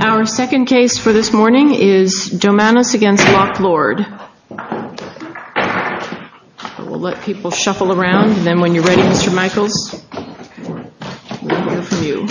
Our second case for this morning is Domanus v. Locke Lord. We'll let people shuffle around and then when you're ready, Mr. Michaels, we'll go from you.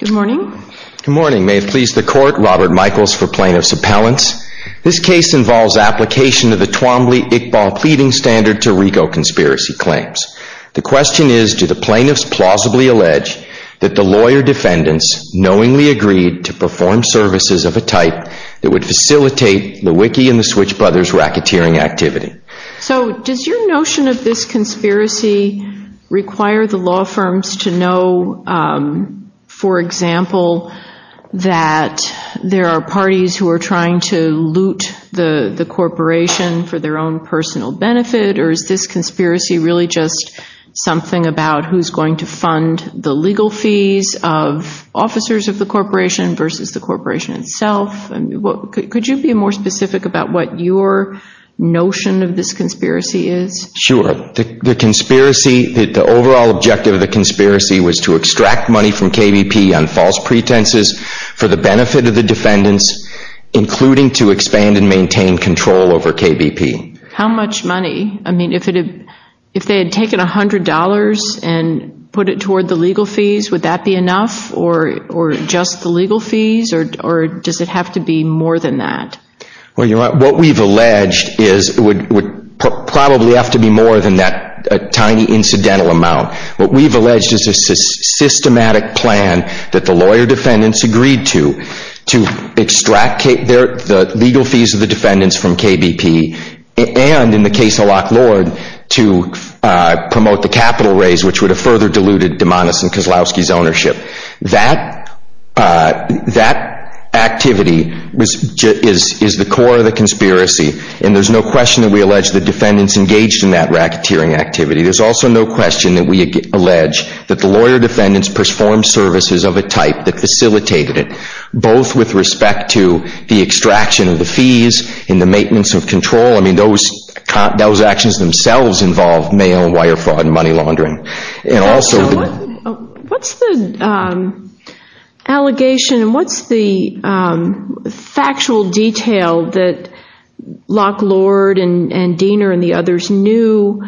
Good morning. Good morning. May it please the Court, Robert Michaels for Plaintiff's Appellants. This case involves application of the Twombly-Iqbal pleading standard to RICO conspiracy claims. The question is, do the plaintiffs plausibly allege that the lawyer defendants knowingly agreed to perform services of a type that would facilitate the Wiki and the Switch Brothers racketeering activity? So does your notion of this conspiracy require the law firms to know, for example, that there are parties who are trying to loot the corporation for their own personal benefit, or is this conspiracy really just something about who's going to fund the legal fees of officers of the corporation versus the corporation itself? Could you be more specific about what your notion of this conspiracy is? Sure. The conspiracy, the overall objective of the conspiracy was to extract money from KBP on false pretenses for the benefit of the defendants, including to expand and maintain control over KBP. How much money? I mean, if they had taken $100 and put it toward the legal fees, would that be enough, or just the legal fees, or does it have to be more than that? What we've alleged would probably have to be more than that tiny incidental amount. What we've alleged is a systematic plan that the lawyer defendants agreed to, to extract the legal fees of the defendants from KBP, and in the case of Lock Lord, to promote the capital raise, which would have further diluted Dumanis and Kozlowski's ownership. That activity is the core of the conspiracy, and there's no question that we allege the defendants engaged in that racketeering activity. There's also no question that we allege that the lawyer defendants performed services of a type that facilitated it, both with respect to the extraction of the fees and the maintenance of control. I mean, those actions themselves involve mail and wire fraud and money laundering. What's the allegation, and what's the factual detail that Lock Lord and Diener and the others knew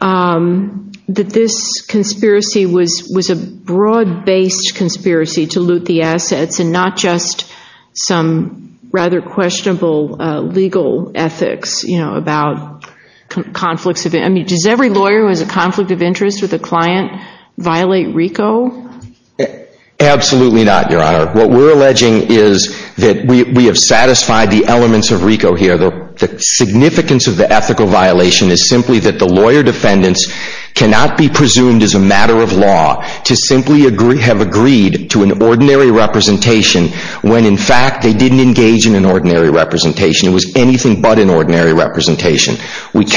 that this conspiracy was a broad-based conspiracy to loot the assets, and not just some rather questionable legal ethics about conflicts of interest? I mean, does every lawyer who has a conflict of interest with a client violate RICO? Absolutely not, Your Honor. What we're alleging is that we have satisfied the elements of RICO here. The significance of the ethical violation is simply that the lawyer defendants cannot be presumed as a matter of law to simply have agreed to an ordinary representation when in fact they didn't engage in an ordinary representation. It was anything but an ordinary representation. It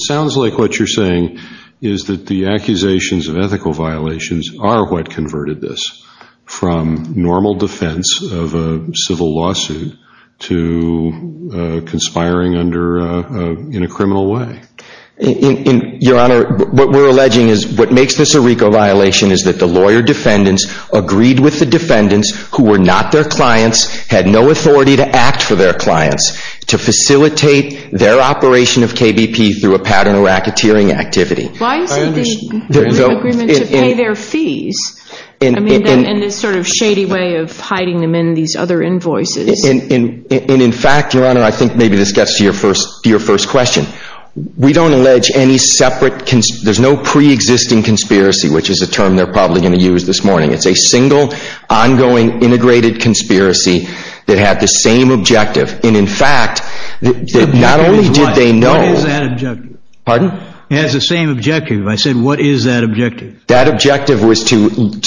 sounds like what you're saying is that the accusations of ethical violations are what converted this from normal defense of a civil lawsuit to conspiring in a criminal way. Your Honor, what we're alleging is what makes this a RICO violation is that the lawyer defendants agreed with the defendants who were not their clients, had no authority to act for their clients, to facilitate their operation of KBP through a pattern of racketeering activity. Why isn't the RICO agreement to pay their fees? I mean, and this sort of shady way of hiding them in these other invoices. And in fact, Your Honor, I think maybe this gets to your first question. We don't allege any separate, there's no pre-existing conspiracy, which is a term they're probably going to use this morning. It's a single, ongoing, integrated conspiracy that had the same objective. And in fact, not only did they know… What is that objective? Pardon? It has the same objective. I said, what is that objective? That objective was to loot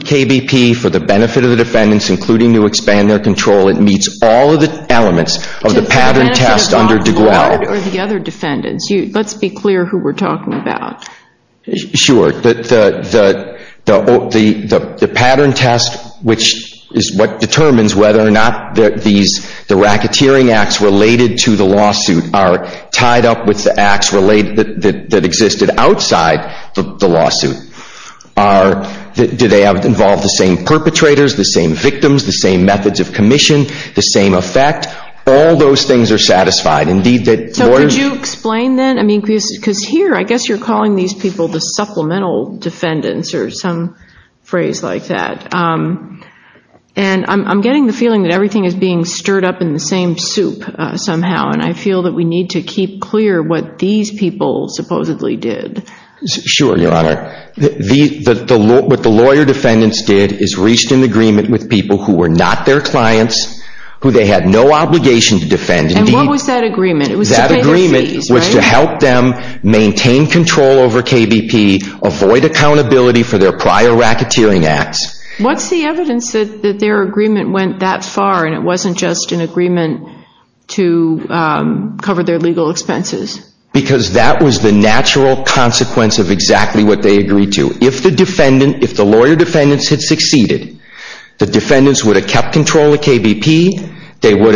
KBP for the benefit of the defendants, including to expand their control. It meets all of the elements of the pattern test under DeGuao. So the benefit of DeGuao or the other defendants? Let's be clear who we're talking about. Sure. The pattern test, which is what determines whether or not the racketeering acts related to the lawsuit are tied up with the acts that existed outside the lawsuit. Do they involve the same perpetrators, the same victims, the same methods of commission, the same effect? All those things are satisfied. So could you explain then? Because here, I guess you're calling these people the supplemental defendants or some phrase like that. And I'm getting the feeling that everything is being stirred up in the same soup somehow. And I feel that we need to keep clear what these people supposedly did. Sure, Your Honor. What the lawyer defendants did is reached an agreement with people who were not their clients, who they had no obligation to defend. And what was that agreement? It was to pay their fees, right? That agreement was to help them maintain control over KBP, avoid accountability for their prior racketeering acts. What's the evidence that their agreement went that far and it wasn't just an agreement to cover their legal expenses? Because that was the natural consequence of exactly what they agreed to. If the lawyer defendants had succeeded, the defendants would have kept control of KBP, they would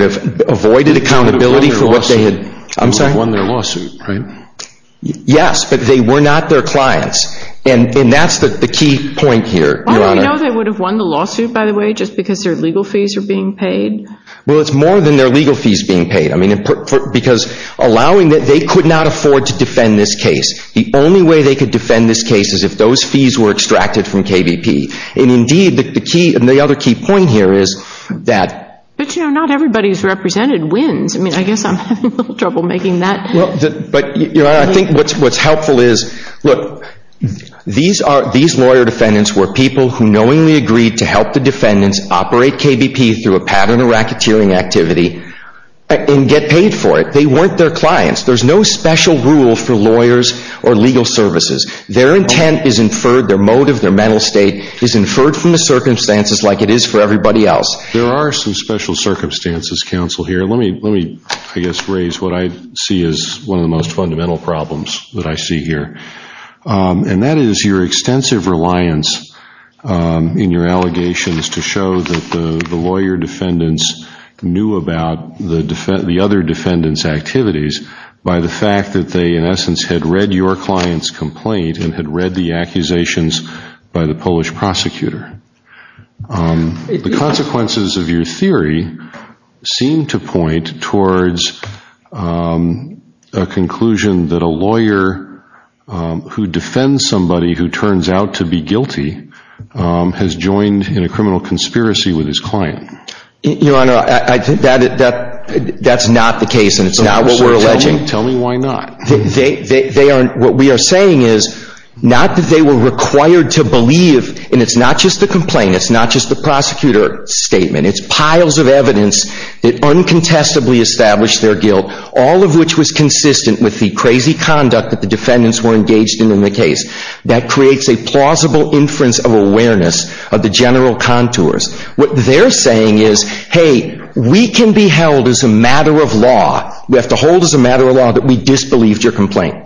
have avoided accountability for what they had... They would have won their lawsuit, right? Yes, but they were not their clients. And that's the key point here, Your Honor. Well, do we know they would have won the lawsuit, by the way, just because their legal fees were being paid? Well, it's more than their legal fees being paid. I mean, because allowing that they could not afford to defend this case. The only way they could defend this case is if those fees were extracted from KBP. And indeed, the other key point here is that... But, you know, not everybody who's represented wins. I mean, I guess I'm having a little trouble making that... But, Your Honor, I think what's helpful is, look, these lawyer defendants were people who knowingly agreed to help the defendants operate KBP through a pattern of racketeering activity and get paid for it. They weren't their clients. There's no special rule for lawyers or legal services. Their intent is inferred, their motive, their mental state is inferred from the circumstances like it is for everybody else. There are some special circumstances, counsel, here. Let me, I guess, raise what I see as one of the most fundamental problems that I see here. And that is your extensive reliance in your allegations to show that the lawyer defendants knew about the other defendants' activities by the fact that they, in essence, had read your client's complaint and had read the accusations by the Polish prosecutor. The consequences of your theory seem to point towards a conclusion that a lawyer who defends somebody who turns out to be guilty has joined in a criminal conspiracy with his client. Your Honor, that's not the case, and it's not what we're alleging. Tell me why not. What we are saying is not that they were required to believe, and it's not just the complaint, it's not just the prosecutor statement, it's piles of evidence that uncontestably established their guilt, all of which was consistent with the crazy conduct that the defendants were engaged in in the case. That creates a plausible inference of awareness of the general contours. What they're saying is, hey, we can be held as a matter of law, we have to hold as a matter of law that we disbelieved your complaint.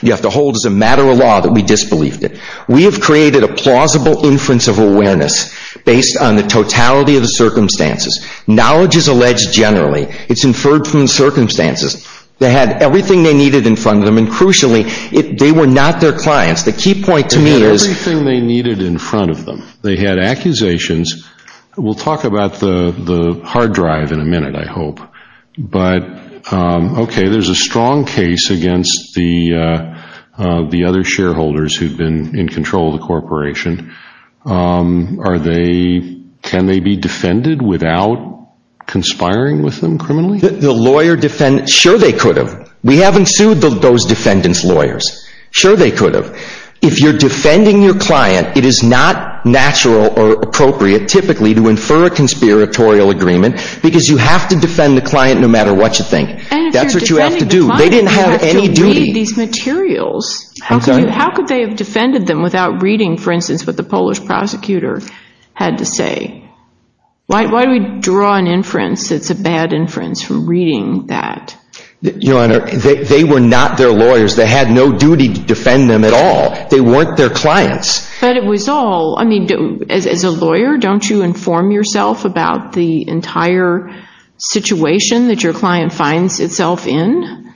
You have to hold as a matter of law that we disbelieved it. We have created a plausible inference of awareness based on the totality of the circumstances. Knowledge is alleged generally. It's inferred from the circumstances. They had everything they needed in front of them, and crucially, they were not their clients. They had everything they needed in front of them. They had accusations. We'll talk about the hard drive in a minute, I hope. But, okay, there's a strong case against the other shareholders who've been in control of the corporation. Can they be defended without conspiring with them criminally? Sure they could have. We haven't sued those defendants' lawyers. Sure they could have. If you're defending your client, it is not natural or appropriate typically to infer a conspiratorial agreement because you have to defend the client no matter what you think. That's what you have to do. And if you're defending the client, you have to read these materials. How could they have defended them without reading, for instance, what the Polish prosecutor had to say? Why do we draw an inference that's a bad inference from reading that? Your Honor, they were not their lawyers. They had no duty to defend them at all. They weren't their clients. But it was all, I mean, as a lawyer, don't you inform yourself about the entire situation that your client finds itself in?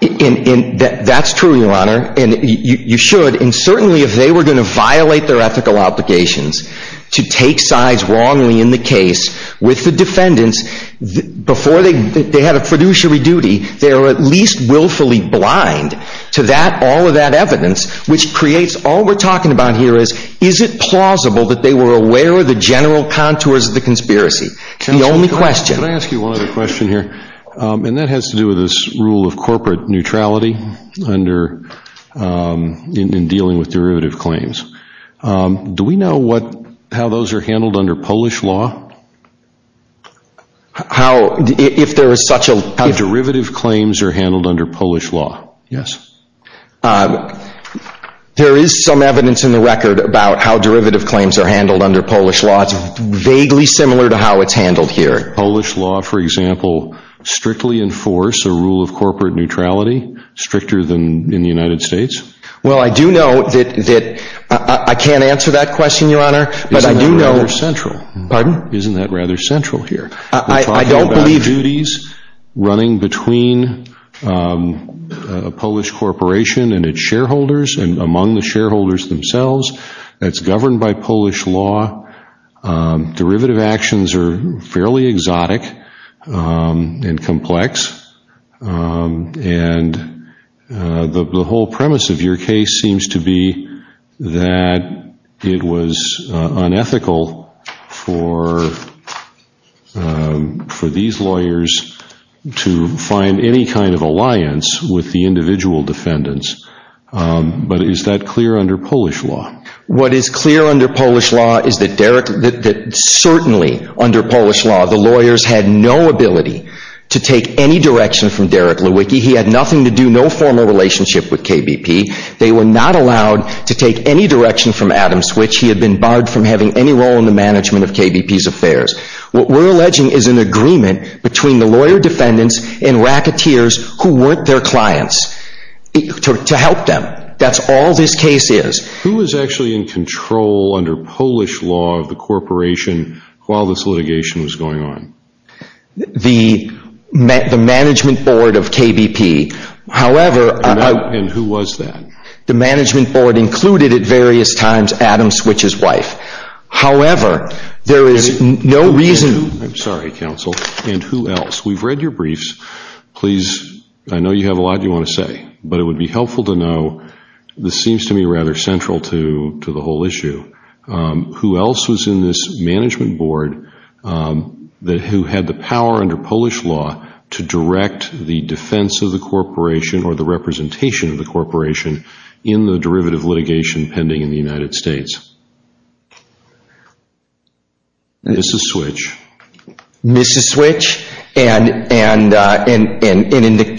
That's true, Your Honor, and you should. And certainly if they were going to violate their ethical obligations to take sides wrongly in the case with the defendants, before they had a fiduciary duty, they were at least willfully blind to all of that evidence, which creates all we're talking about here is, is it plausible that they were aware of the general contours of the conspiracy? The only question. Can I ask you one other question here? And that has to do with this rule of corporate neutrality in dealing with derivative claims. Do we know what, how those are handled under Polish law? How, if there is such a. How derivative claims are handled under Polish law. Yes. There is some evidence in the record about how derivative claims are handled under Polish law. It's vaguely similar to how it's handled here. Polish law, for example, strictly enforce a rule of corporate neutrality, stricter than in the United States? Well, I do know that I can't answer that question, Your Honor. But I do know. Isn't that rather central? Pardon? Isn't that rather central here? I don't believe. We're talking about duties running between a Polish corporation and its shareholders and among the shareholders themselves. That's governed by Polish law. Derivative actions are fairly exotic and complex. And the whole premise of your case seems to be that it was unethical for these lawyers to find any kind of alliance with the individual defendants. But is that clear under Polish law? What is clear under Polish law is that Derek, that certainly under Polish law, the lawyers had no ability to take any direction from Derek Lewicki. He had nothing to do, no formal relationship with KBP. They were not allowed to take any direction from Adam Switch. He had been barred from having any role in the management of KBP's affairs. What we're alleging is an agreement between the lawyer defendants and racketeers who weren't their clients to help them. That's all this case is. Who was actually in control under Polish law of the corporation while this litigation was going on? The management board of KBP. And who was that? The management board included at various times Adam Switch's wife. However, there is no reason. I'm sorry, counsel. And who else? We've read your briefs. Please, I know you have a lot you want to say. But it would be helpful to know, this seems to me rather central to the whole issue. Who else was in this management board who had the power under Polish law to direct the defense of the corporation or the representation of the corporation in the derivative litigation pending in the United States? Mrs. Switch. Mrs. Switch. And during the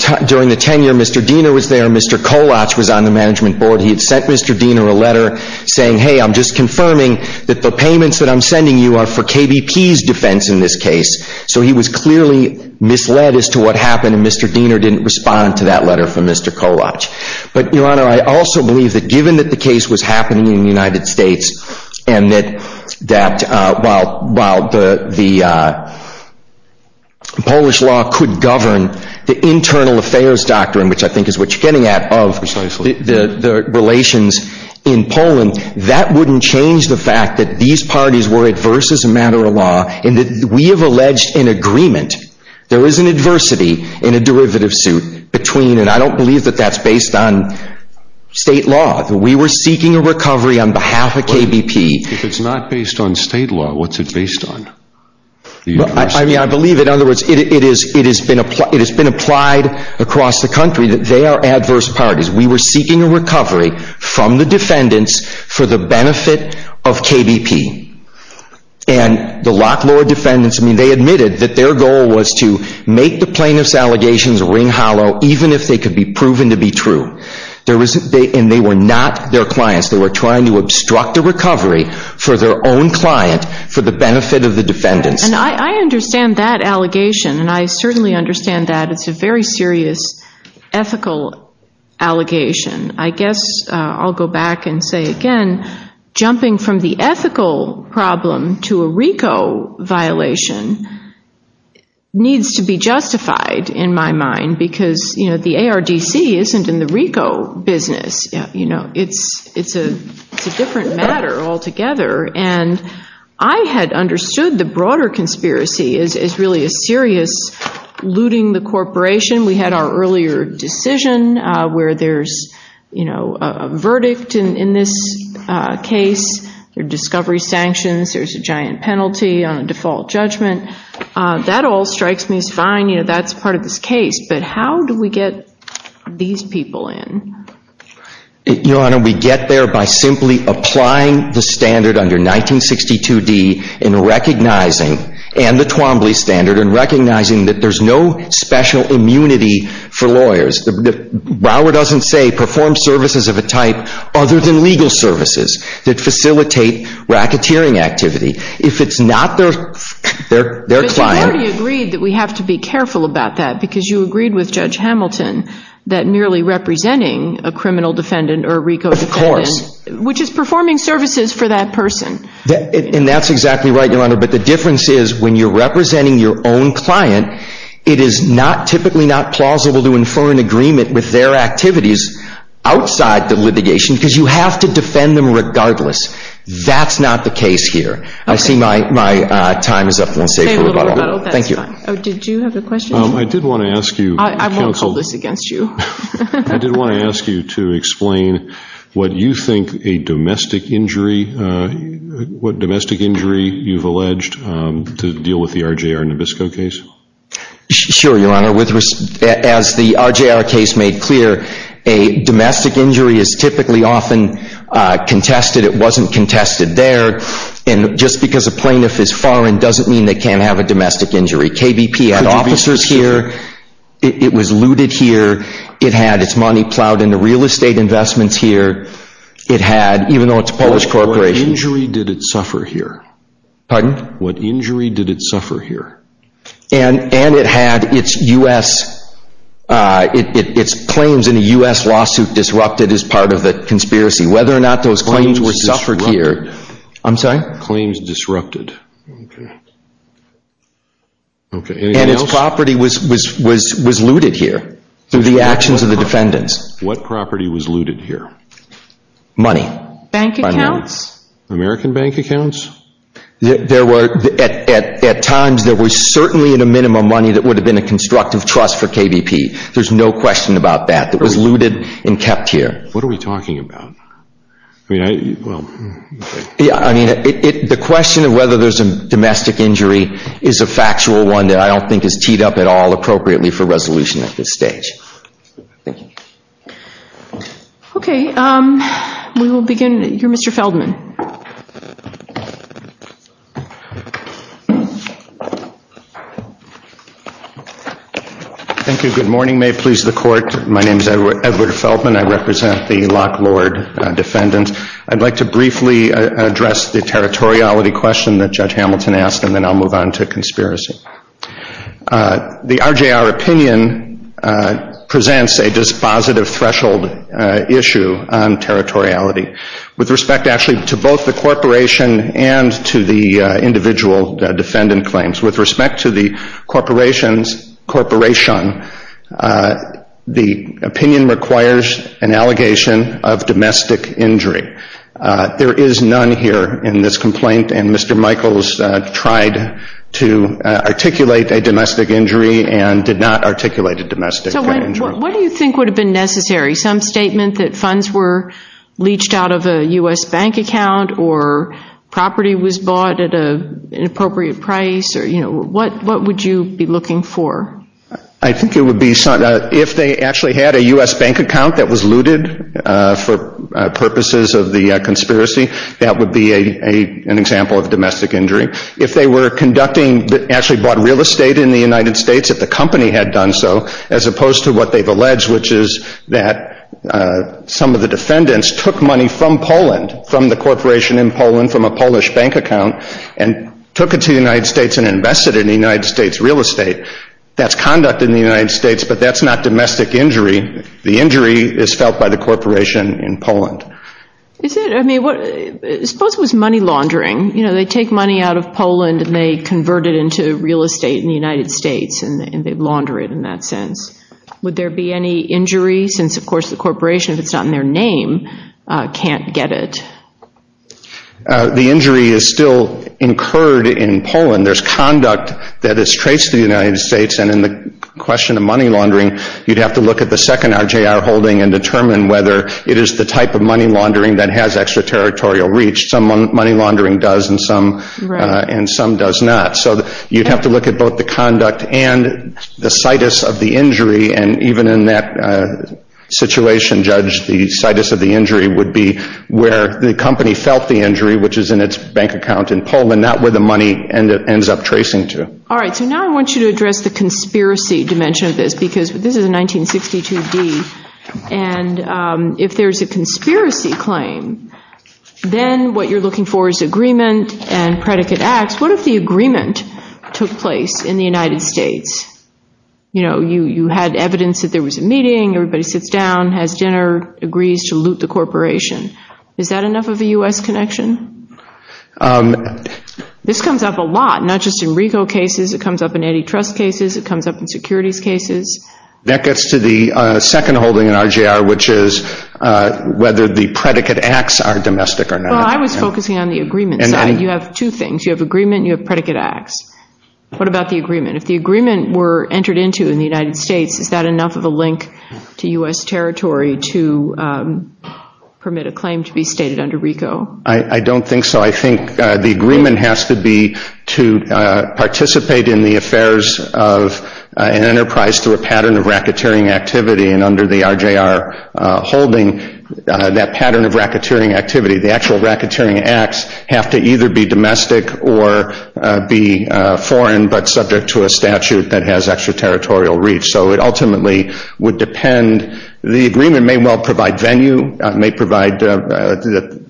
tenure, Mr. Diener was there. Mr. Kolatch was on the management board. He had sent Mr. Diener a letter saying, hey, I'm just confirming that the payments that I'm sending you are for KBP's defense in this case. So he was clearly misled as to what happened, and Mr. Diener didn't respond to that letter from Mr. Kolatch. But, Your Honor, I also believe that given that the case was happening in the United States, and that while the Polish law could govern the internal affairs doctrine, which I think is what you're getting at, of the relations in Poland, that wouldn't change the fact that these parties were adverse as a matter of law, and that we have alleged in agreement there is an adversity in a derivative suit between, and I don't believe that that's based on state law. We were seeking a recovery on behalf of KBP. If it's not based on state law, what's it based on? I mean, I believe, in other words, it has been applied across the country that they are adverse parties. We were seeking a recovery from the defendants for the benefit of KBP. And the lot law defendants, I mean, they admitted that their goal was to make the plaintiff's allegations ring hollow, even if they could be proven to be true. And they were not their clients. They were trying to obstruct a recovery for their own client for the benefit of the defendants. And I understand that allegation, and I certainly understand that. It's a very serious ethical allegation. I guess I'll go back and say again, jumping from the ethical problem to a RICO violation needs to be justified in my mind, because, you know, the ARDC isn't in the RICO business. You know, it's a different matter altogether. And I had understood the broader conspiracy as really a serious looting the corporation. We had our earlier decision where there's, you know, a verdict in this case. There are discovery sanctions. There's a giant penalty on the default judgment. That all strikes me as fine. You know, that's part of this case. But how do we get these people in? Your Honor, we get there by simply applying the standard under 1962D and recognizing, and the Twombly standard and recognizing that there's no special immunity for lawyers. Brower doesn't say perform services of a type other than legal services that facilitate racketeering activity. If it's not their client. But you already agreed that we have to be careful about that, because you agreed with Judge Hamilton that merely representing a criminal defendant or a RICO defendant. Of course. Which is performing services for that person. And that's exactly right, Your Honor. But the difference is when you're representing your own client, it is typically not plausible to infer an agreement with their activities outside the litigation, because you have to defend them regardless. That's not the case here. I see my time is up. Thank you. Did you have a question? I did want to ask you. I won't hold this against you. I did want to ask you to explain what you think a domestic injury, what domestic injury you've alleged to deal with the RJR Nabisco case. Sure, Your Honor. As the RJR case made clear, a domestic injury is typically often contested. It wasn't contested there. And just because a plaintiff is foreign doesn't mean they can't have a domestic injury. KBP had officers here. It was looted here. It had its money plowed into real estate investments here. It had, even though it's a Polish corporation. What injury did it suffer here? Pardon? What injury did it suffer here? And it had its claims in a U.S. lawsuit disrupted as part of the conspiracy. Whether or not those claims were suffered here. Claims disrupted. I'm sorry? Claims disrupted. Okay. Okay, anything else? And its property was looted here through the actions of the defendants. What property was looted here? Money. Bank accounts? American bank accounts? There were, at times, there was certainly in a minimum money that would have been a constructive trust for KBP. There's no question about that. It was looted and kept here. What are we talking about? I mean, well. I mean, the question of whether there's a domestic injury is a factual one that I don't think is teed up at all appropriately for resolution at this stage. Thank you. Okay. We will begin. You're Mr. Feldman. Thank you. Good morning. May it please the court. My name is Edward Feldman. I represent the Lock Lord defendants. I'd like to briefly address the territoriality question that Judge Hamilton asked, and then I'll move on to conspiracy. The RJR opinion presents a dispositive threshold issue on territoriality with respect actually to both the corporation and to the individual defendant claims. With respect to the corporation, the opinion requires an allegation of domestic injury. There is none here in this complaint, and Mr. Michaels tried to articulate a domestic injury and did not articulate a domestic injury. So what do you think would have been necessary? Some statement that funds were leached out of a U.S. bank account or property was bought at an appropriate price or, you know, what would you be looking for? I think it would be if they actually had a U.S. bank account that was looted for purposes of the conspiracy, that would be an example of domestic injury. If they were conducting, actually bought real estate in the United States, if the company had done so, as opposed to what they've alleged, which is that some of the defendants took money from Poland, from the corporation in Poland, from a Polish bank account, and took it to the United States and invested in the United States real estate, that's conduct in the United States, but that's not domestic injury. The injury is felt by the corporation in Poland. Is it? I mean, suppose it was money laundering. You know, they take money out of Poland and they convert it into real estate in the United States, and they launder it in that sense. Would there be any injury since, of course, the corporation, if it's not in their name, can't get it? The injury is still incurred in Poland. There's conduct that is traced to the United States, and in the question of money laundering, you'd have to look at the second RJR holding and determine whether it is the type of money laundering that has extraterritorial reach. Some money laundering does, and some does not. So you'd have to look at both the conduct and the situs of the injury, and even in that situation, Judge, the situs of the injury would be where the company felt the injury, which is in its bank account in Poland, not where the money ends up tracing to. All right. So now I want you to address the conspiracy dimension of this, because this is a 1962D, and if there's a conspiracy claim, then what you're looking for is agreement and predicate acts. What if the agreement took place in the United States? You know, you had evidence that there was a meeting, everybody sits down, has dinner, agrees to loot the corporation. Is that enough of a U.S. connection? This comes up a lot, not just in RICO cases. It comes up in antitrust cases. It comes up in securities cases. That gets to the second holding in RJR, which is whether the predicate acts are domestic or not. Well, I was focusing on the agreement side. You have two things. You have agreement and you have predicate acts. What about the agreement? If the agreement were entered into in the United States, is that enough of a link to U.S. territory to permit a claim to be stated under RICO? I don't think so. I think the agreement has to be to participate in the affairs of an enterprise through a pattern of racketeering activity, and under the RJR holding, that pattern of racketeering activity, the actual racketeering acts have to either be domestic or be foreign but subject to a statute that has extraterritorial reach. So it ultimately would depend. The agreement may well provide venue, may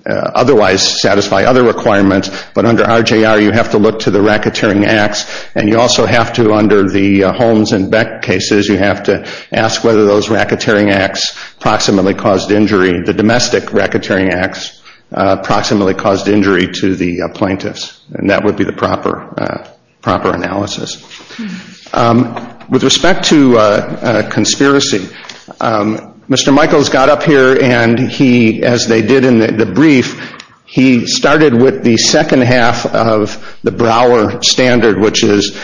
otherwise satisfy other requirements, but under RJR you have to look to the racketeering acts, and you also have to under the Holmes and Beck cases, you have to ask whether those racketeering acts proximately caused injury, the domestic racketeering acts proximately caused injury to the plaintiffs, and that would be the proper analysis. With respect to conspiracy, Mr. Michaels got up here and he, as they did in the brief, he started with the second half of the Brouwer standard, which is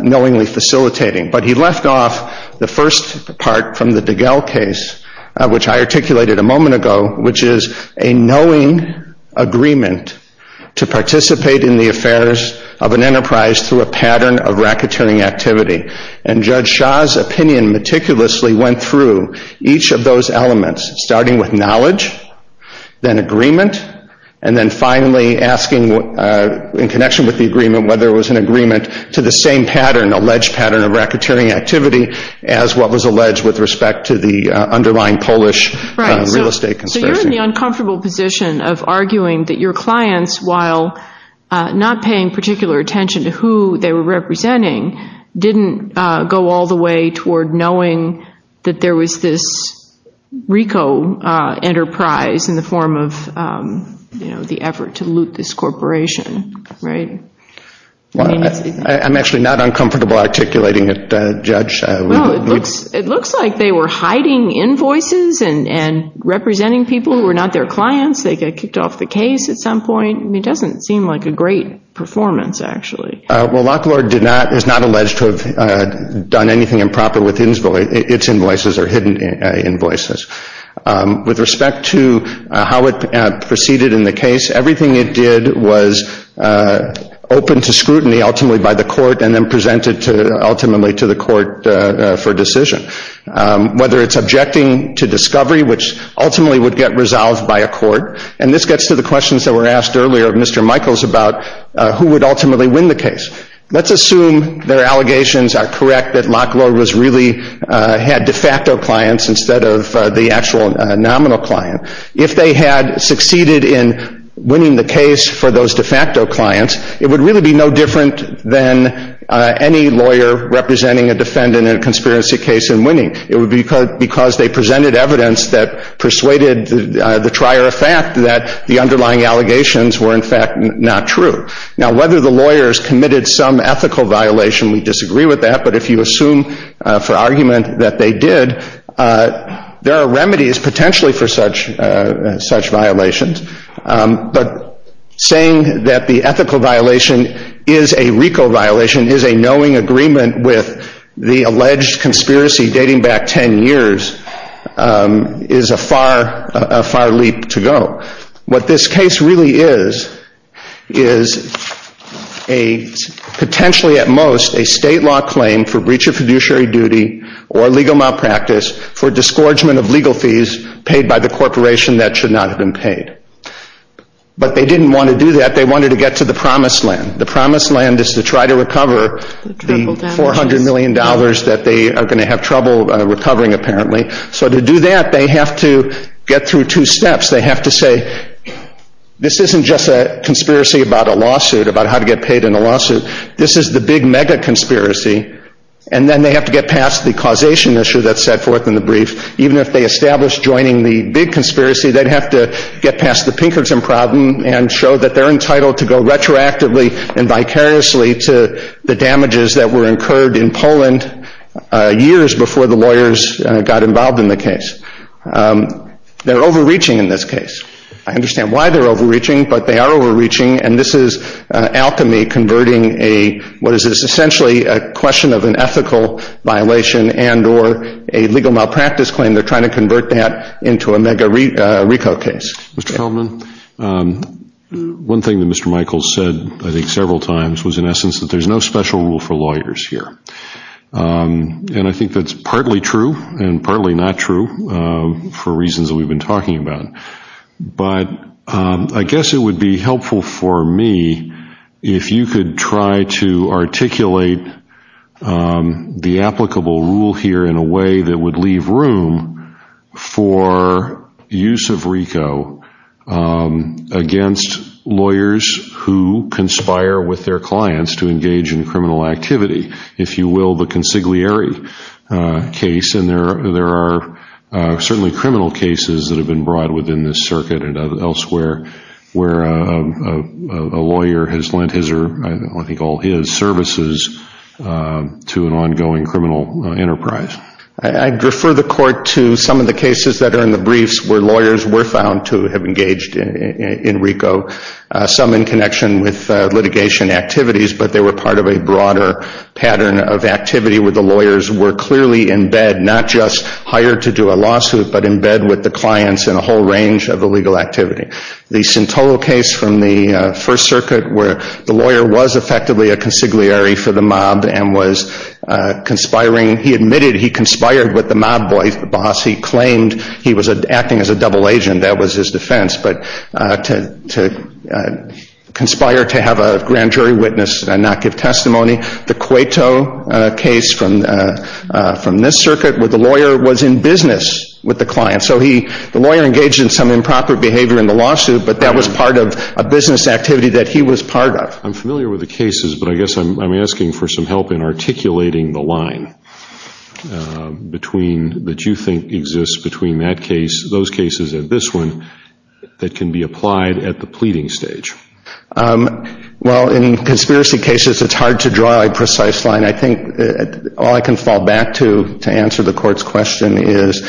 knowingly facilitating, but he left off the first part from the Degel case, which I articulated a moment ago, which is a knowing agreement to participate in the affairs of an enterprise through a pattern of racketeering activity. And Judge Shah's opinion meticulously went through each of those elements, starting with knowledge, then agreement, and then finally asking in connection with the agreement whether it was an agreement to the same pattern, alleged pattern of racketeering activity, as what was alleged with respect to the underlying Polish real estate conspiracy. So you're in the uncomfortable position of arguing that your clients, while not paying particular attention to who they were representing, didn't go all the way toward knowing that there was this RICO enterprise in the form of the effort to loot this corporation, right? I'm actually not uncomfortable articulating it, Judge. Well, it looks like they were hiding invoices and representing people who were not their clients. They got kicked off the case at some point. It doesn't seem like a great performance, actually. Well, Lock Lord is not alleged to have done anything improper with its invoices or hidden invoices. With respect to how it proceeded in the case, everything it did was open to scrutiny ultimately by the court and then presented ultimately to the court for decision. Whether it's objecting to discovery, which ultimately would get resolved by a court, and this gets to the questions that were asked earlier of Mr. Michaels about who would ultimately win the case. Let's assume their allegations are correct, that Lock Lord really had de facto clients instead of the actual nominal client. If they had succeeded in winning the case for those de facto clients, it would really be no different than any lawyer representing a defendant in a conspiracy case and winning. It would be because they presented evidence that persuaded the trier of fact that the underlying allegations were, in fact, not true. Now, whether the lawyers committed some ethical violation, we disagree with that, but if you assume for argument that they did, there are remedies potentially for such violations. But saying that the ethical violation is a RICO violation, is a knowing agreement with the alleged conspiracy dating back 10 years, is a far leap to go. What this case really is, is potentially at most a state law claim for breach of fiduciary duty or legal malpractice for disgorgement of legal fees paid by the corporation that should not have been paid. But they didn't want to do that. They wanted to get to the promised land. The promised land is to try to recover the $400 million that they are going to have trouble recovering, apparently. So to do that, they have to get through two steps. They have to say, this isn't just a conspiracy about a lawsuit, about how to get paid in a lawsuit. This is the big mega conspiracy. And then they have to get past the causation issue that's set forth in the brief. Even if they established joining the big conspiracy, they'd have to get past the Pinkerton problem and show that they're entitled to go retroactively and vicariously to the damages that were incurred in Poland years before the lawyers got involved in the case. They're overreaching in this case. I understand why they're overreaching, but they are overreaching, and this is alchemy converting a, what is essentially a question of an ethical violation and or a legal malpractice claim, they're trying to convert that into a mega RICO case. Mr. Feldman, one thing that Mr. Michaels said, I think several times, was in essence that there's no special rule for lawyers here. And I think that's partly true and partly not true for reasons that we've been talking about. But I guess it would be helpful for me if you could try to articulate the applicable rule here in a way that would leave room for use of RICO against lawyers who conspire with their clients to engage in criminal activity. If you will, the consigliere case. And there are certainly criminal cases that have been brought within this circuit and elsewhere where a lawyer has lent his or I think all his services to an ongoing criminal enterprise. I'd refer the court to some of the cases that are in the briefs where lawyers were found to have engaged in RICO, some in connection with litigation activities, but they were part of a broader pattern of activity where the lawyers were clearly in bed, not just hired to do a lawsuit, but in bed with the clients in a whole range of illegal activity. The Sintolo case from the First Circuit where the lawyer was effectively a consigliere for the mob and was conspiring, he admitted he conspired with the mob boss. He claimed he was acting as a double agent. That was his defense. But to conspire to have a grand jury witness and not give testimony. The Cueto case from this circuit where the lawyer was in business with the client. So the lawyer engaged in some improper behavior in the lawsuit, but that was part of a business activity that he was part of. I'm familiar with the cases, but I guess I'm asking for some help in articulating the line that you think exists between those cases and this one that can be applied at the pleading stage. Well, in conspiracy cases, it's hard to draw a precise line. I think all I can fall back to to answer the Court's question is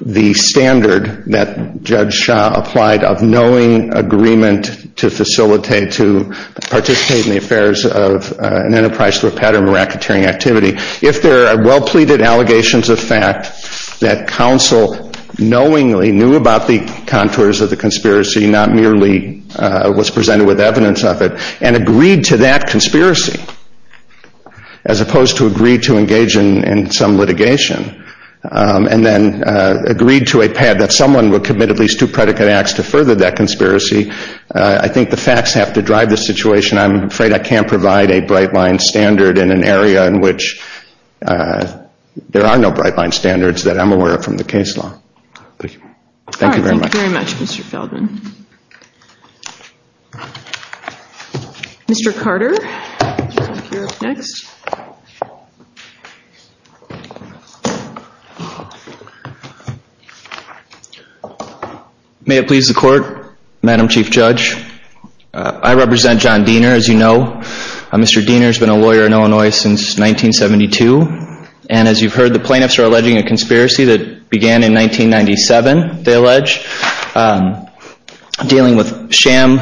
the standard that Judge Shah applied of knowing agreement to facilitate, to participate in the affairs of an enterprise through a pattern of racketeering activity. If there are well-pleaded allegations of fact that counsel knowingly knew about the contours of the conspiracy, not merely was presented with evidence of it, and agreed to that conspiracy as opposed to agreed to engage in some litigation, and then agreed to a pad that someone would commit at least two predicate acts to further that conspiracy, I think the facts have to drive the situation. I'm afraid I can't provide a bright-line standard in an area in which there are no bright-line standards that I'm aware of from the case law. Thank you very much. Thank you very much, Mr. Feldman. Mr. Carter, you're up next. May it please the Court, Madam Chief Judge. I represent John Diener, as you know. Mr. Diener has been a lawyer in Illinois since 1972. And as you've heard, the plaintiffs are alleging a conspiracy that began in 1997, they allege, dealing with sham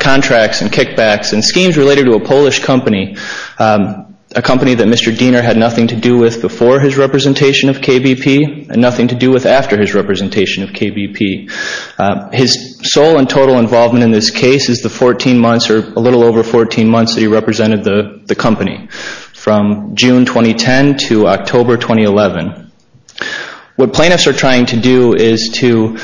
contracts and kickbacks and schemes related to a Polish company, a company that Mr. Diener had nothing to do with before his representation of KBP and nothing to do with after his representation of KBP. His sole and total involvement in this case is the 14 months, or a little over 14 months, that he represented the company, from June 2010 to October 2011. What plaintiffs are trying to do is to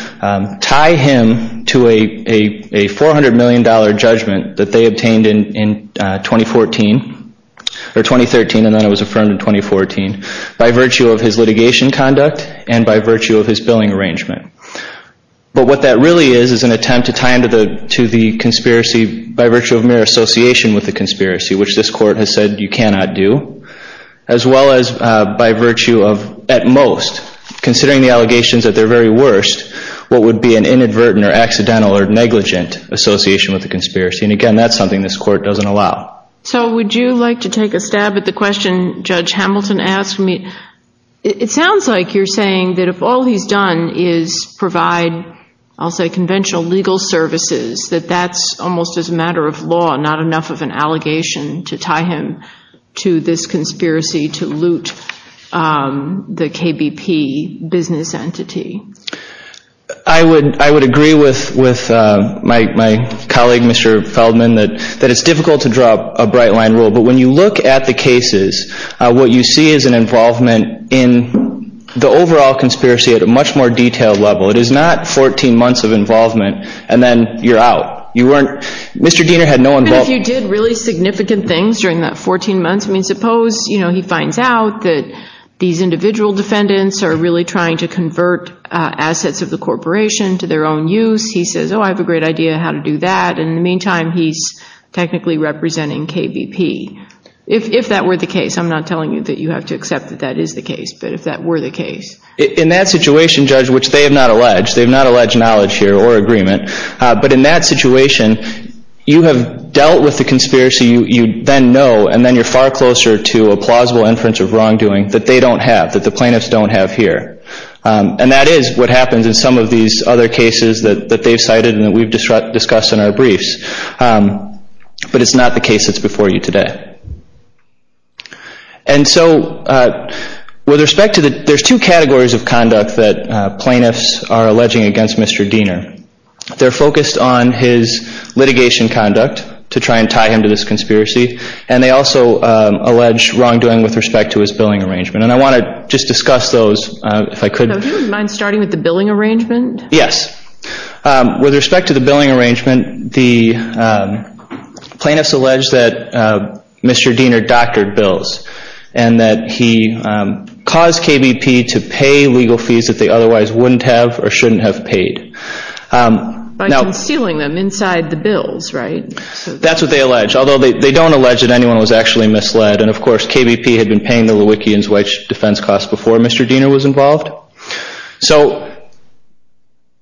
tie him to a $400 million judgment that they obtained in 2014, or 2013, and then it was affirmed in 2014, by virtue of his litigation conduct and by virtue of his billing arrangement. But what that really is is an attempt to tie him to the conspiracy by virtue of mere association with the conspiracy, which this Court has said you cannot do, as well as by virtue of, at most, considering the allegations that they're very worst, what would be an inadvertent or accidental or negligent association with the conspiracy. And, again, that's something this Court doesn't allow. So would you like to take a stab at the question Judge Hamilton asked me? It sounds like you're saying that if all he's done is provide, I'll say, conventional legal services, that that's almost as a matter of law, not enough of an allegation to tie him to this conspiracy to loot the KBP business entity. I would agree with my colleague, Mr. Feldman, that it's difficult to draw a bright line rule, but when you look at the cases, what you see is an involvement in the overall conspiracy at a much more detailed level. It is not 14 months of involvement, and then you're out. You weren't, Mr. Diener had no involvement. Even if you did really significant things during that 14 months, I mean, suppose, you know, he finds out that these individual defendants are really trying to convert assets of the corporation to their own use. He says, oh, I have a great idea how to do that. In the meantime, he's technically representing KBP. If that were the case, I'm not telling you that you have to accept that that is the case, but if that were the case. In that situation, Judge, which they have not alleged, they have not alleged knowledge here or agreement, but in that situation, you have dealt with the conspiracy you then know, and then you're far closer to a plausible inference of wrongdoing that they don't have, that the plaintiffs don't have here. And that is what happens in some of these other cases that they've cited and that we've discussed in our briefs. But it's not the case that's before you today. And so with respect to the, there's two categories of conduct that plaintiffs are alleging against Mr. Diener. They're focused on his litigation conduct to try and tie him to this conspiracy, and they also allege wrongdoing with respect to his billing arrangement. And I want to just discuss those if I could. So he wouldn't mind starting with the billing arrangement? Yes. With respect to the billing arrangement, the plaintiffs allege that Mr. Diener doctored bills and that he caused KBP to pay legal fees that they otherwise wouldn't have or shouldn't have paid. By concealing them inside the bills, right? That's what they allege, although they don't allege that anyone was actually misled. And, of course, KBP had been paying the Lewickians wage defense costs before Mr. Diener was involved. So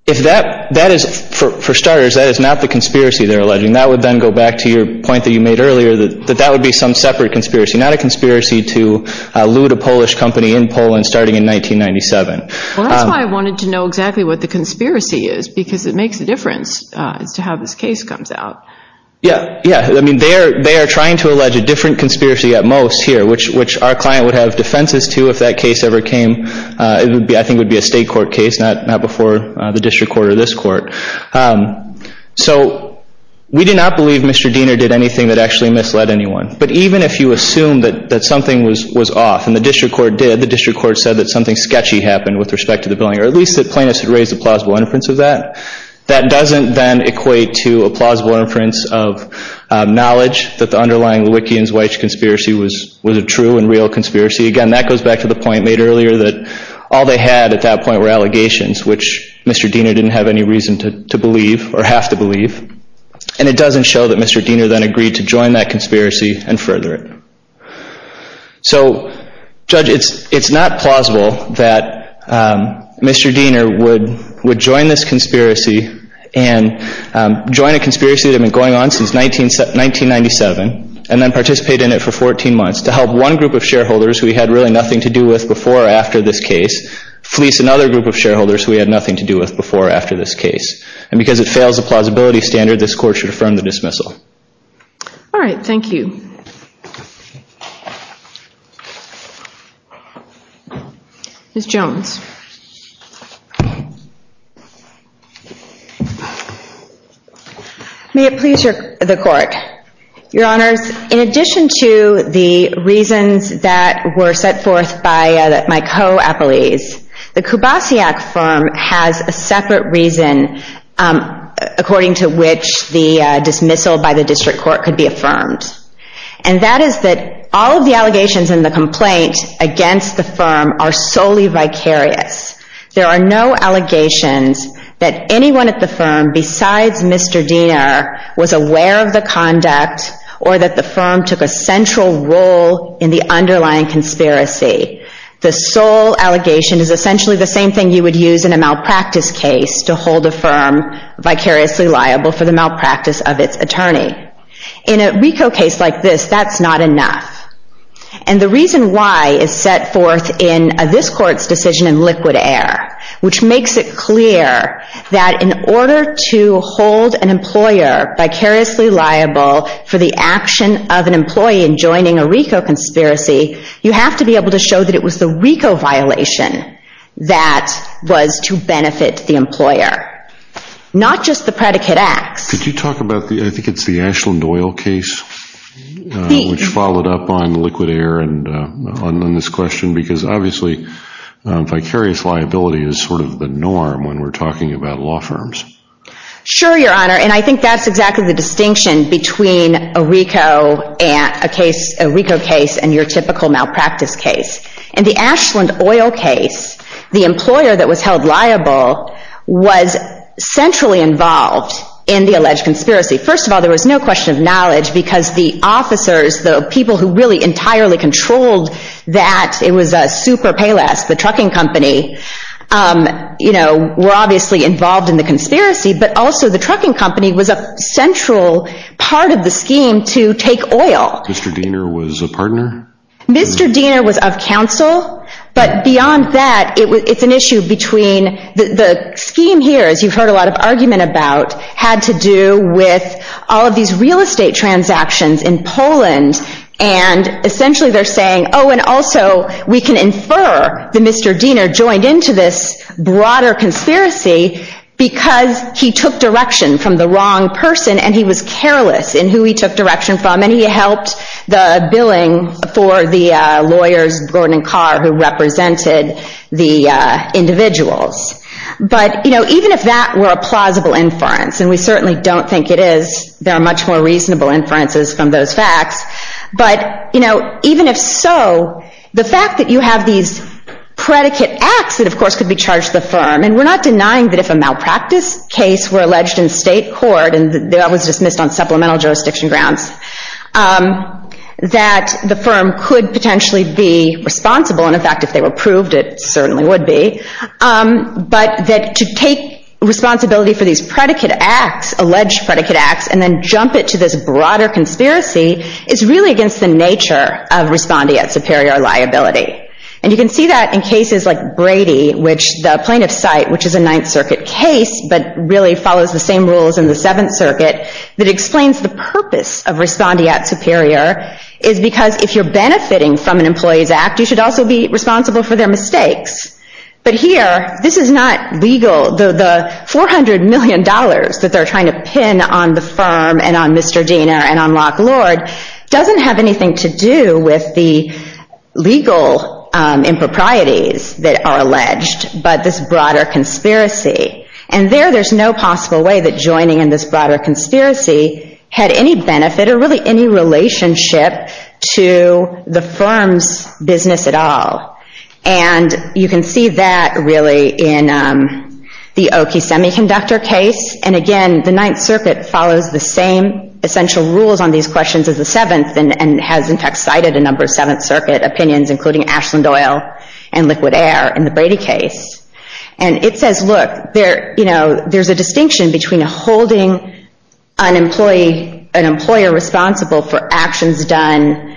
if that, that is, for starters, that is not the conspiracy they're alleging. That would then go back to your point that you made earlier, that that would be some separate conspiracy, not a conspiracy to loot a Polish company in Poland starting in 1997. Well, that's why I wanted to know exactly what the conspiracy is, because it makes a difference as to how this case comes out. Yeah, yeah. I mean, they are trying to allege a different conspiracy at most here, which our client would have defenses to if that case ever came. I think it would be a state court case, not before the district court or this court. So we do not believe Mr. Diener did anything that actually misled anyone. But even if you assume that something was off, and the district court did, the district court said that something sketchy happened with respect to the billing, or at least the plaintiffs had raised a plausible inference of that, that doesn't then equate to a plausible inference of knowledge that the underlying Lewickians-Weich conspiracy was a true and real conspiracy. Again, that goes back to the point made earlier that all they had at that point were allegations, which Mr. Diener didn't have any reason to believe or have to believe. And it doesn't show that Mr. Diener then agreed to join that conspiracy and further it. So, Judge, it's not plausible that Mr. Diener would join this conspiracy and join a conspiracy that had been going on since 1997 and then participate in it for 14 months to help one group of shareholders who he had really nothing to do with before or after this case fleece another group of shareholders who he had nothing to do with before or after this case. And because it fails the plausibility standard, this court should affirm the dismissal. All right. Thank you. Ms. Jones. May it please the court. Your Honors, in addition to the reasons that were set forth by my co-appellees, the Kubasiak firm has a separate reason, according to which the dismissal by the district court could be affirmed. And that is that all of the allegations in the complaint against the firm are solely vicarious. There are no allegations that anyone at the firm besides Mr. Diener was aware of the conduct or that the firm took a central role in the underlying conspiracy. The sole allegation is essentially the same thing you would use in a malpractice case to hold a firm vicariously liable for the malpractice of its attorney. In a RICO case like this, that's not enough. And the reason why is set forth in this court's decision in liquid air, which makes it clear that in order to hold an employer vicariously liable for the action of an employee in joining a RICO conspiracy, you have to be able to show that it was the RICO violation that was to benefit the employer, not just the predicate acts. Could you talk about, I think it's the Ashland Oil case, which followed up on liquid air and on this question, because obviously vicarious liability is sort of the norm when we're talking about law firms. Sure, Your Honor, and I think that's exactly the distinction between a RICO case and your typical malpractice case. In the Ashland Oil case, the employer that was held liable was centrally involved in the alleged conspiracy. First of all, there was no question of knowledge because the officers, the people who really entirely controlled that, it was a super payless, the trucking company, were obviously involved in the conspiracy, but also the trucking company was a central part of the scheme to take oil. Mr. Diener was a partner? Mr. Diener was of counsel, but beyond that, it's an issue between the scheme here, as you've heard a lot of argument about, had to do with all of these real estate transactions in Poland, and essentially they're saying, oh, and also we can infer that Mr. Diener joined into this broader conspiracy because he took direction from the wrong person and he was careless in who he took direction from, and he helped the billing for the lawyers, Gordon and Carr, who represented the individuals. But even if that were a plausible inference, and we certainly don't think it is, there are much more reasonable inferences from those facts, but even if so, the fact that you have these predicate acts that of course could be charged to the firm, and we're not denying that if a malpractice case were alleged in state court, and that was dismissed on supplemental jurisdiction grounds, that the firm could potentially be responsible, and in fact if they were proved it certainly would be, but that to take responsibility for these predicate acts, alleged predicate acts, and then jump it to this broader conspiracy is really against the nature of respondeat superior liability. And you can see that in cases like Brady, which the plaintiff's site, which is a Ninth Circuit case, but really follows the same rules in the Seventh Circuit, that explains the purpose of respondeat superior, is because if you're benefiting from an employee's act, you should also be responsible for their mistakes. But here, this is not legal. The $400 million that they're trying to pin on the firm, and on Mr. Diener, and on Locke Lord, doesn't have anything to do with the legal improprieties that are alleged, but this broader conspiracy. And there, there's no possible way that joining in this broader conspiracy had any benefit or really any relationship to the firm's business at all. And you can see that really in the Oakey Semiconductor case, and again, the Ninth Circuit follows the same essential rules on these questions as the Seventh, and has in fact cited a number of Seventh Circuit opinions, including Ashland-Doyle and Liquid Air in the Brady case. And it says, look, there's a distinction between holding an employee, an employer responsible for actions done,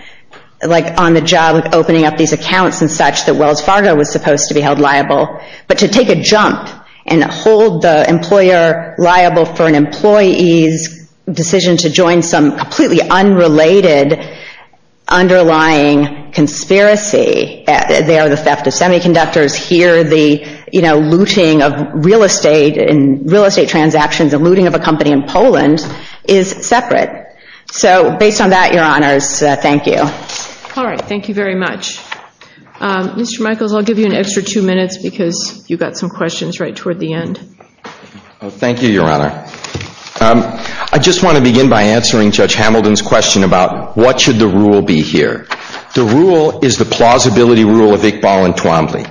like on the job of opening up these accounts and such, that Wells Fargo was supposed to be held liable, but to take a jump and hold the employer liable for an employee's decision to join some completely unrelated underlying conspiracy. There, the theft of semiconductors. Here, the looting of real estate and real estate transactions and looting of a company in Poland is separate. So based on that, Your Honors, thank you. All right, thank you very much. Mr. Michaels, I'll give you an extra two minutes because you've got some questions right toward the end. Thank you, Your Honor. I just want to begin by answering Judge Hamilton's question about what should the rule be here. The rule is the plausibility rule of Iqbal and Twombly.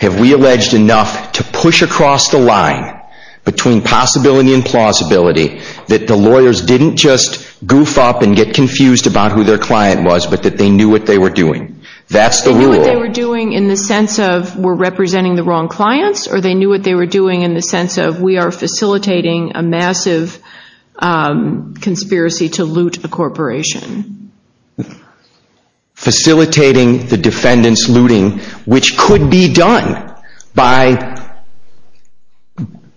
Have we alleged enough to push across the line between possibility and plausibility that the lawyers didn't just goof up and get confused about who their client was, but that they knew what they were doing? That's the rule. They knew what they were doing in the sense of we're representing the wrong clients, or they knew what they were doing in the sense of we are facilitating a massive conspiracy to loot a corporation? Facilitating the defendant's looting, which could be done by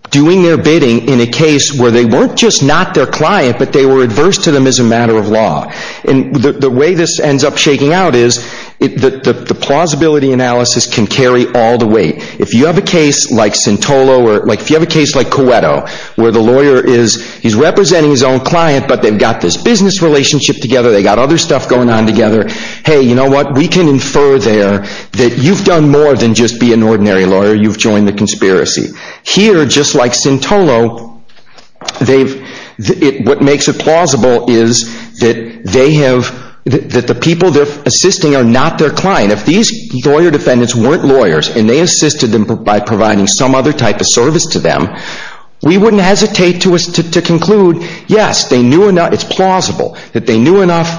doing their bidding in a case where they weren't just not their client, but they were adverse to them as a matter of law. And the way this ends up shaking out is the plausibility analysis can carry all the weight. If you have a case like Sintolo, or if you have a case like Coeto, where the lawyer is representing his own client, but they've got this business relationship together, they've got other stuff going on together, hey, you know what? We can infer there that you've done more than just be an ordinary lawyer. You've joined the conspiracy. Here, just like Sintolo, what makes it plausible is that the people they're assisting are not their client. If these lawyer defendants weren't lawyers, and they assisted them by providing some other type of service to them, we wouldn't hesitate to conclude, yes, it's plausible that they knew enough,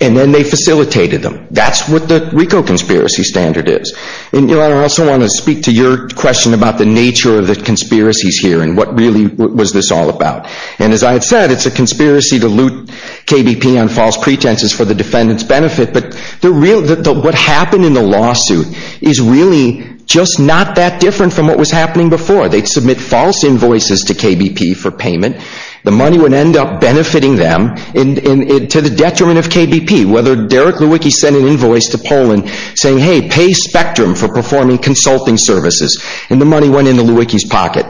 and then they facilitated them. That's what the RICO conspiracy standard is. I also want to speak to your question about the nature of the conspiracies here and what really was this all about. And as I had said, it's a conspiracy to loot KBP on false pretenses for the defendant's benefit, but what happened in the lawsuit is really just not that different from what was happening before. They'd submit false invoices to KBP for payment. The money would end up benefiting them, and to the detriment of KBP, whether Derek Lewicki sent an invoice to Poland saying, hey, pay Spectrum for performing consulting services, and the money went into Lewicki's pocket.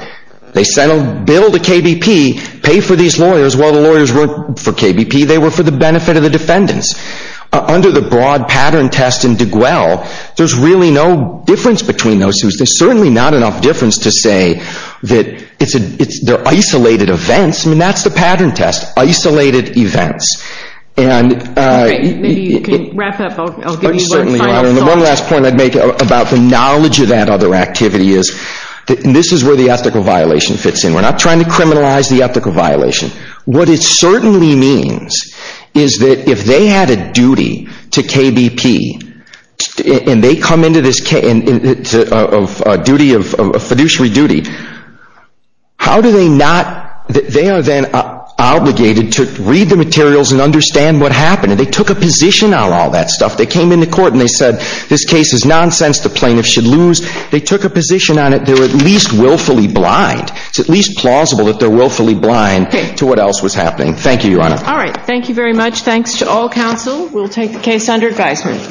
They sent a bill to KBP, pay for these lawyers, while the lawyers weren't for KBP, they were for the benefit of the defendants. Under the broad pattern test in DeGuelle, there's really no difference between those two. There's certainly not enough difference to say that they're isolated events. I mean, that's the pattern test, isolated events. Okay, maybe you can wrap up. I'll give you one final thought. One last point I'd make about the knowledge of that other activity is this is where the ethical violation fits in. We're not trying to criminalize the ethical violation. What it certainly means is that if they had a duty to KBP and they come into this duty of fiduciary duty, how do they not, they are then obligated to read the materials and understand what happened, and they took a position on all that stuff. They came into court and they said, this case is nonsense, the plaintiff should lose. They took a position on it. They're at least willfully blind. It's at least plausible that they're willfully blind. Okay. To what else was happening. Thank you, Your Honor. All right. Thank you very much. Thanks to all counsel. We'll take the case under advisement.